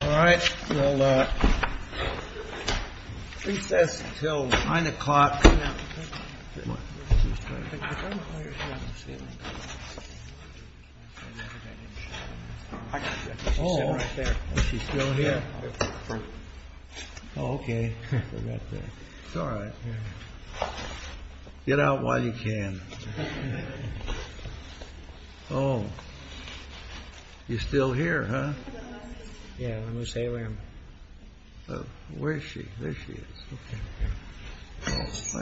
All right, we'll recess until nine o'clock. Oh, she's still here. OK. It's all right. Get out while you can. Oh, you're still here. Yeah. Oh, where is she? There she is.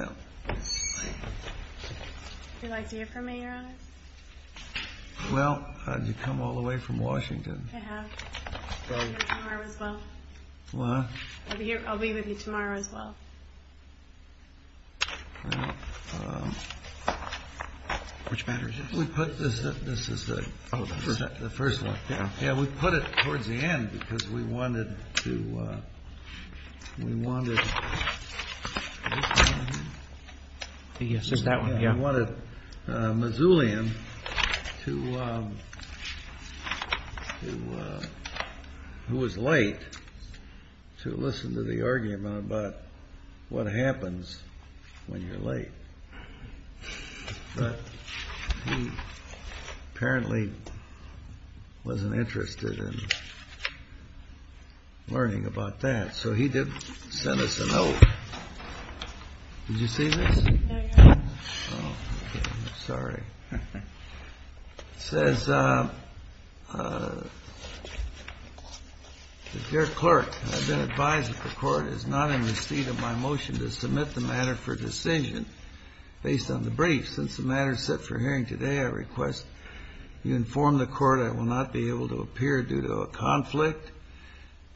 Well, you come all the way from Washington. I have. I'll be with you tomorrow as well. Which matters is we put this. This is the first one. Yeah, we put it towards the end because we wanted to. We wanted. Yes, it's that we wanted Moussaelian to. Who was late to listen to the argument about what happens when you're late. But he apparently wasn't interested in learning about that. So he did send us a note. Did you see this? Sorry. Says your clerk has been advised that the court is not in the seat of my motion to submit the matter for decision. Based on the brief, since the matter set for hearing today, I request you inform the court I will not be able to appear due to a conflict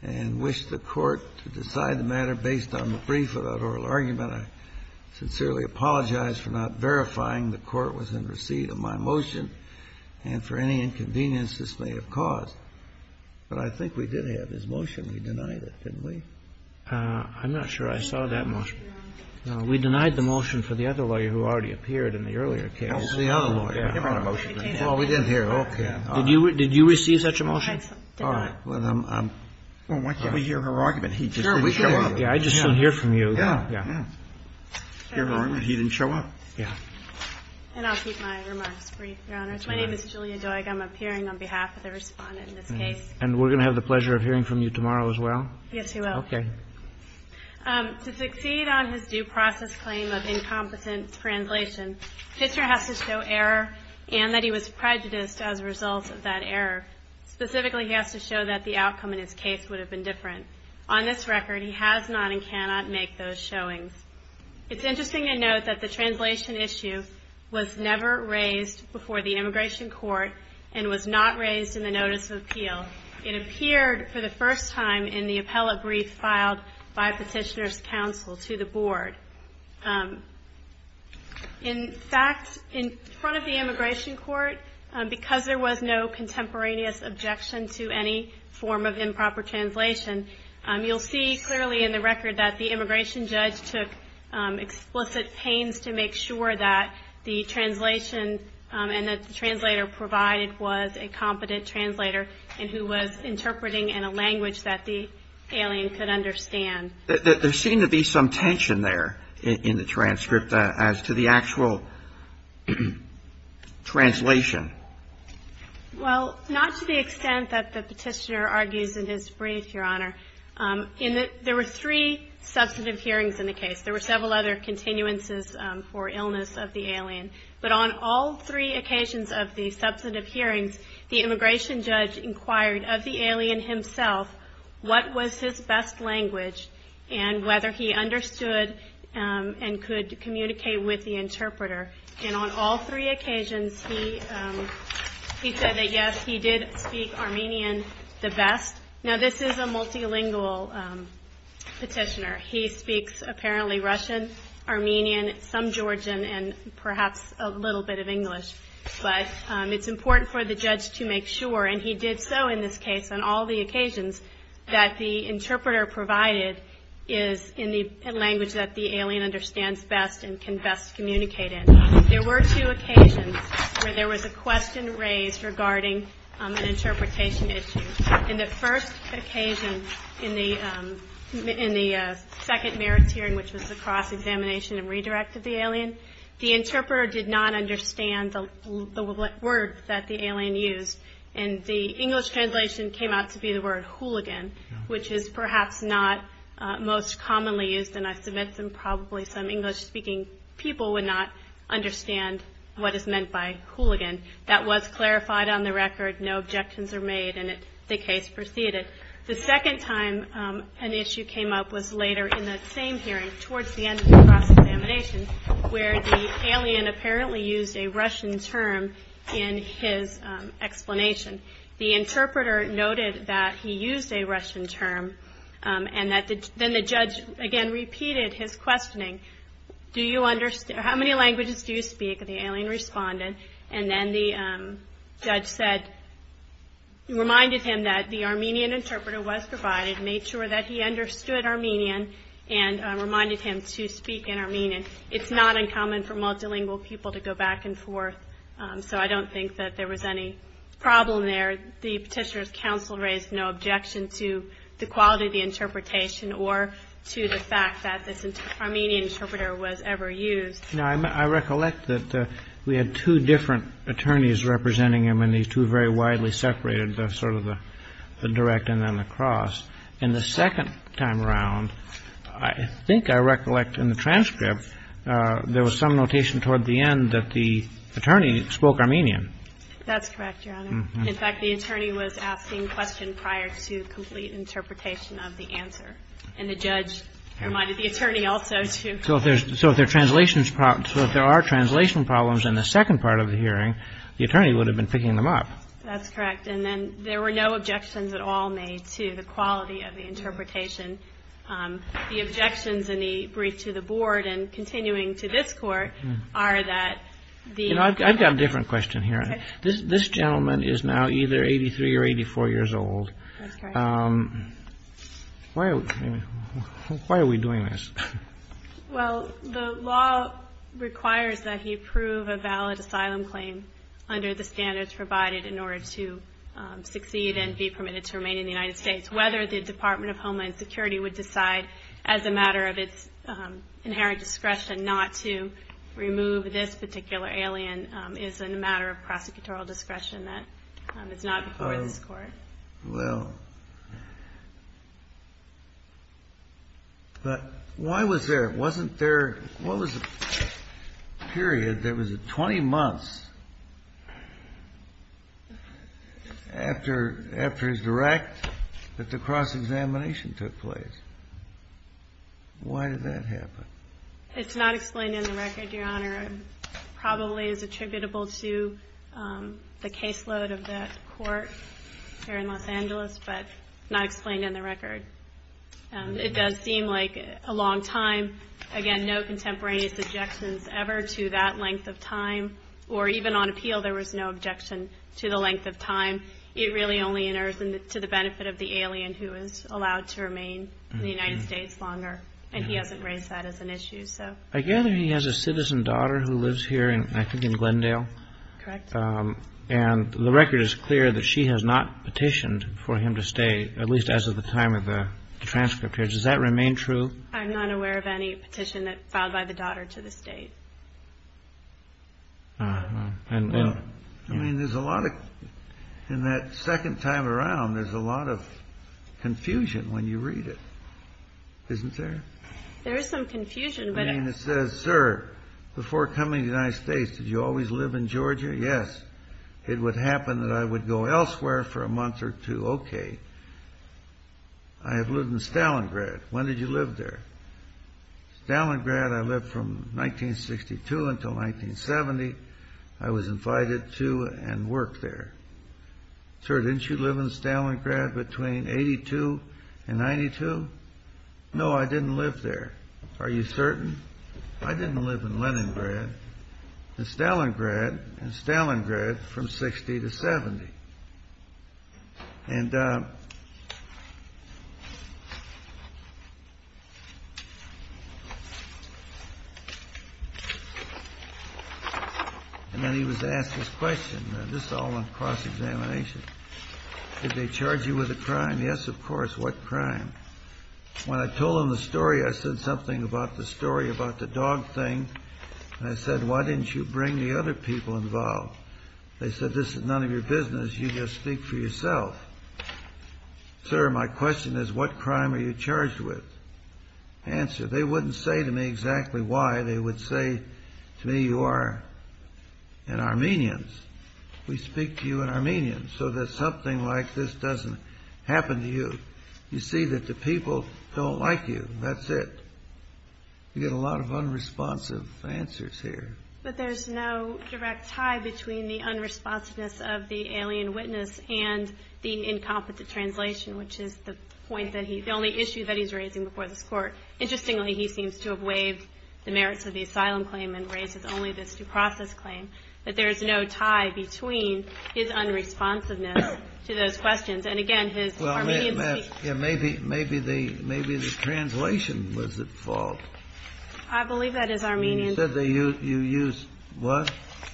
and wish the court to decide the matter based on the brief of that oral argument. I sincerely apologize for not verifying the court was in receipt of my motion and for any inconvenience this may have caused. But I think we did have his motion. We denied it, didn't we? I'm not sure I saw that motion. We denied the motion for the other lawyer who already appeared in the earlier case. The other lawyer. Well, we didn't hear. Okay. Did you did you receive such a motion? Well, why can't we hear her argument? He just didn't show up. Yeah. I just didn't hear from you. Yeah. He didn't show up. Yeah. And I'll keep my remarks brief, Your Honor. My name is Julia Doig. I'm appearing on behalf of the Respondent in this case. And we're going to have the pleasure of hearing from you tomorrow as well. Yes, we will. Okay. To succeed on his due process claim of incompetent translation, Fitzgerald has to show error and that he was prejudiced as a result of that error. Specifically, he has to show that the outcome in his case would have been different. On this record, he has not and cannot make those showings. It's interesting to note that the translation issue was never raised before the immigration court and was not raised in the notice of appeal. It appeared for the first time in the appellate brief filed by petitioner's counsel to the board. In fact, in front of the immigration court, because there was no contemporaneous objection to any form of improper translation, you'll see clearly in the record that the immigration judge took explicit pains to make sure that the translation and that the translator provided was a competent translator and who was interpreting in a language that the alien could understand. There seemed to be some tension there in the transcript as to the actual translation. Well, not to the extent that the petitioner argues in his brief, Your Honor. There were three substantive hearings in the case. There were several other continuances for illness of the alien. But on all three occasions of the substantive hearings, the immigration judge inquired of the alien himself, what was his best language and whether he understood and could communicate with the interpreter. And on all three occasions, he said that, yes, he did speak Armenian the best. Now, this is a multilingual petitioner. He speaks apparently Russian, Armenian, some Georgian, and perhaps a little bit of English. But it's important for the judge to make sure, and he did so in this case on all the occasions, that the interpreter provided is in the language that the alien understands best and can best communicate in. There were two occasions where there was a question raised regarding an interpretation issue. In the first occasion, in the second merits hearing, which was the cross-examination and redirect of the alien, the interpreter did not understand the word that the alien used. And the English translation came out to be the word hooligan, which is perhaps not most commonly used. And I submit that probably some English-speaking people would not understand what is meant by hooligan. That was clarified on the record. No objections are made, and the case proceeded. The second time an issue came up was later in that same hearing, towards the end of the cross-examination, where the alien apparently used a Russian term in his explanation. The interpreter noted that he used a Russian term, and then the judge, again, repeated his questioning. Do you understand, how many languages do you speak? And the alien responded. And then the judge said, reminded him that the Armenian interpreter was provided, made sure that he understood Armenian, and reminded him to speak in Armenian. It's not uncommon for multilingual people to go back and forth, so I don't think that there was any problem there. The petitioner's counsel raised no objection to the quality of the interpretation or to the fact that this Armenian interpreter was ever used. Now, I recollect that we had two different attorneys representing him, and these two very widely separated, sort of the direct and then the cross. In the second time around, I think I recollect in the transcript, there was some notation toward the end that the attorney spoke Armenian. That's correct, Your Honor. In fact, the attorney was asking questions prior to complete interpretation of the answer. And the judge reminded the attorney also to. So if there are translation problems in the second part of the hearing, the attorney would have been picking them up. That's correct. And then there were no objections at all made to the quality of the interpretation. The objections in the brief to the board and continuing to this court are that the. You know, I've got a different question here. This gentleman is now either 83 or 84 years old. That's correct. Why are we doing this? Well, the law requires that he prove a valid asylum claim under the standards provided in order to succeed and be permitted to remain in the United States. Whether the Department of Homeland Security would decide as a matter of its inherent discretion not to remove this particular alien is a matter of prosecutorial discretion that it's not before this court. Well, but why was there wasn't there? What was the period? There was a 20 months after his direct that the cross-examination took place. Why did that happen? Probably is attributable to the caseload of that court here in Los Angeles, but not explained in the record. It does seem like a long time. Again, no contemporaneous objections ever to that length of time. Or even on appeal, there was no objection to the length of time. It really only enters into the benefit of the alien who is allowed to remain in the United States longer. And he hasn't raised that as an issue, so. I gather he has a citizen daughter who lives here in, I think, in Glendale. Correct. And the record is clear that she has not petitioned for him to stay, at least as of the time of the transcript here. Does that remain true? I'm not aware of any petition that filed by the daughter to the state. I mean, there's a lot of, in that second time around, there's a lot of confusion when you read it, isn't there? There is some confusion. It says, sir, before coming to the United States, did you always live in Georgia? Yes. It would happen that I would go elsewhere for a month or two. OK. I have lived in Stalingrad. When did you live there? Stalingrad, I lived from 1962 until 1970. I was invited to and worked there. Sir, didn't you live in Stalingrad between 82 and 92? No, I didn't live there. Are you certain? I didn't live in Leningrad, in Stalingrad, in Stalingrad from 60 to 70. And then he was asked this question. This is all on cross-examination. Did they charge you with a crime? Yes, of course. What crime? When I told them the story, I said something about the story about the dog thing. And I said, why didn't you bring the other people involved? They said, this is none of your business. You just speak for yourself. Sir, my question is, what crime are you charged with? Answer. They wouldn't say to me exactly why. They would say to me, you are an Armenian. We speak to you in Armenian so that something like this doesn't happen to you. You see that the people don't like you. That's it. You get a lot of unresponsive answers here. But there's no direct tie between the unresponsiveness of the alien witness and the incompetent translation, which is the point that he, the only issue that he's raising before this court. Interestingly, he seems to have waived the merits of the asylum claim and raises only this due process claim. But there is no tie between his unresponsiveness to those questions. And again, his Armenian speaking. Well, maybe the translation was at fault. I believe that is Armenian. You said you used what?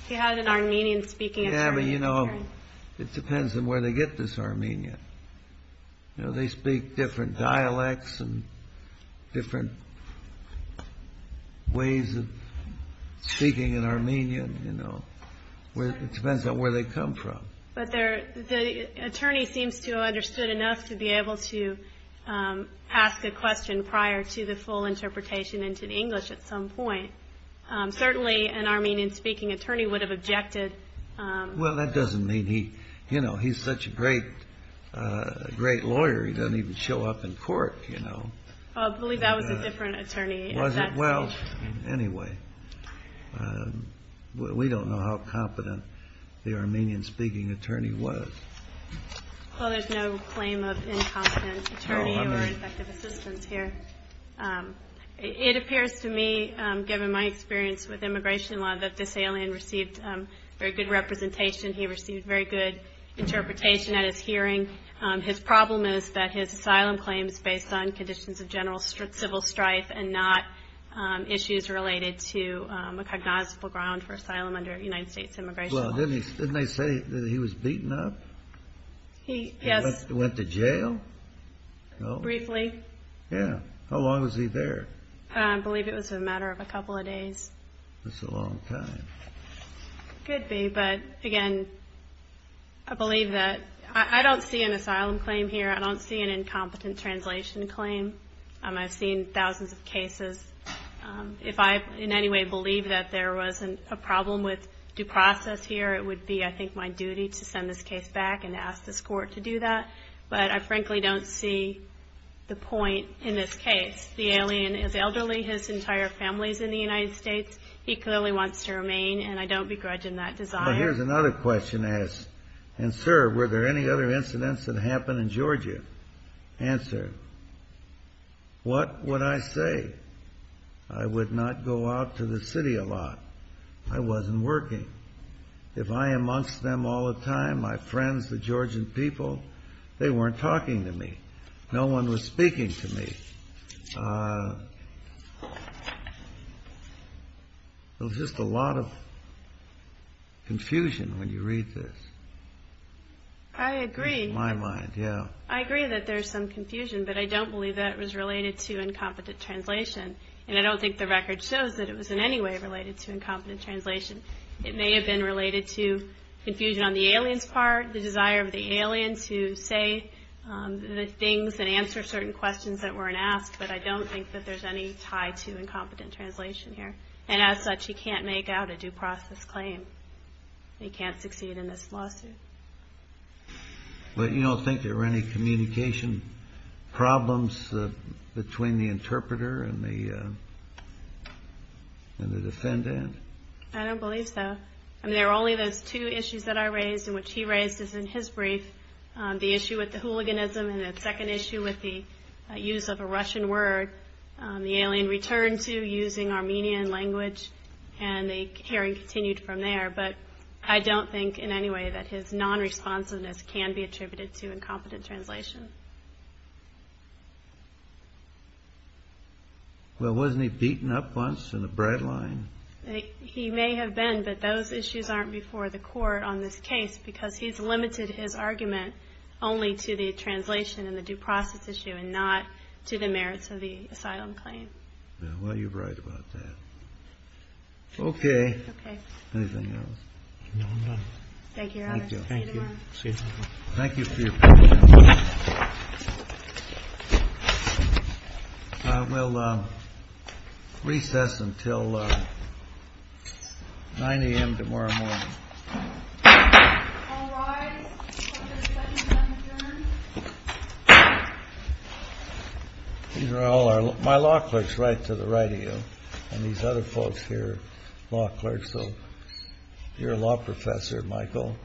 He had an Armenian speaking attorney. Yeah, but you know, it depends on where they get this Armenian. They speak different dialects and different ways of speaking in Armenian. It depends on where they come from. But the attorney seems to have understood enough to be able to ask a question prior to the full interpretation into the English at some point. Certainly, an Armenian speaking attorney would have objected. Well, that doesn't mean he, you know, he's such a great lawyer, he doesn't even show up in court, you know. I believe that was a different attorney. Well, anyway, we don't know how competent the Armenian speaking attorney was. Well, there's no claim of incompetent attorney or effective assistance here. It appears to me, given my experience with immigration law, that this alien received very good representation. He received very good interpretation at his hearing. His problem is that his asylum claims based on conditions of general civil strife and not issues related to a cognizable ground for asylum under United States immigration law. Didn't they say that he was beaten up? He, yes. Went to jail? Briefly. Yeah. How long was he there? I believe it was a matter of a couple of days. That's a long time. Could be, but again, I believe that I don't see an asylum claim here. I don't see an incompetent translation claim. I've seen thousands of cases. If I in any way believe that there wasn't a problem with due process here, it would be, I think, my duty to send this case back and ask this court to do that. But I frankly don't see the point in this case. The alien is elderly. His entire family is in the United States. He clearly wants to remain, and I don't begrudge him that desire. Well, here's another question asked. And sir, were there any other incidents that happened in Georgia? Answer. What would I say? I would not go out to the city a lot. I wasn't working. If I am amongst them all the time, my friends, the Georgian people, they weren't talking to me. No one was speaking to me. There's just a lot of confusion when you read this. I agree. In my mind, yeah. I agree that there's some confusion, but I don't believe that was related to incompetent translation. And I don't think the record shows that it was in any way related to incompetent translation. It may have been related to confusion on the alien's part, the desire of the alien to say the things and answer certain questions that weren't asked. But I don't think that there's any tie to incompetent translation here. And as such, he can't make out a due process claim. He can't succeed in this lawsuit. But you don't think there were any communication problems between the interpreter and the defendant? I don't believe so. There were only those two issues that I raised and which he raised in his brief, the issue with the hooliganism and the second issue with the use of a Russian word the alien returned to using Armenian language. And the hearing continued from there. But I don't think in any way that his non-responsiveness can be attributed to incompetent translation. Well, wasn't he beaten up once in the bread line? He may have been, but those issues aren't before the court on this case because he's limited his argument only to the translation and the due process issue and not to the merits of the asylum claim. Well, you're right about that. OK. Anything else? No, I'm done. Thank you, Your Honor. Thank you. See you tomorrow. Thank you for your time. I will recess until 9 AM tomorrow morning. All rise for the second round of hearings. These are all my law clerks right to the right of you. And these other folks here are law clerks. So you're a law professor, Michael.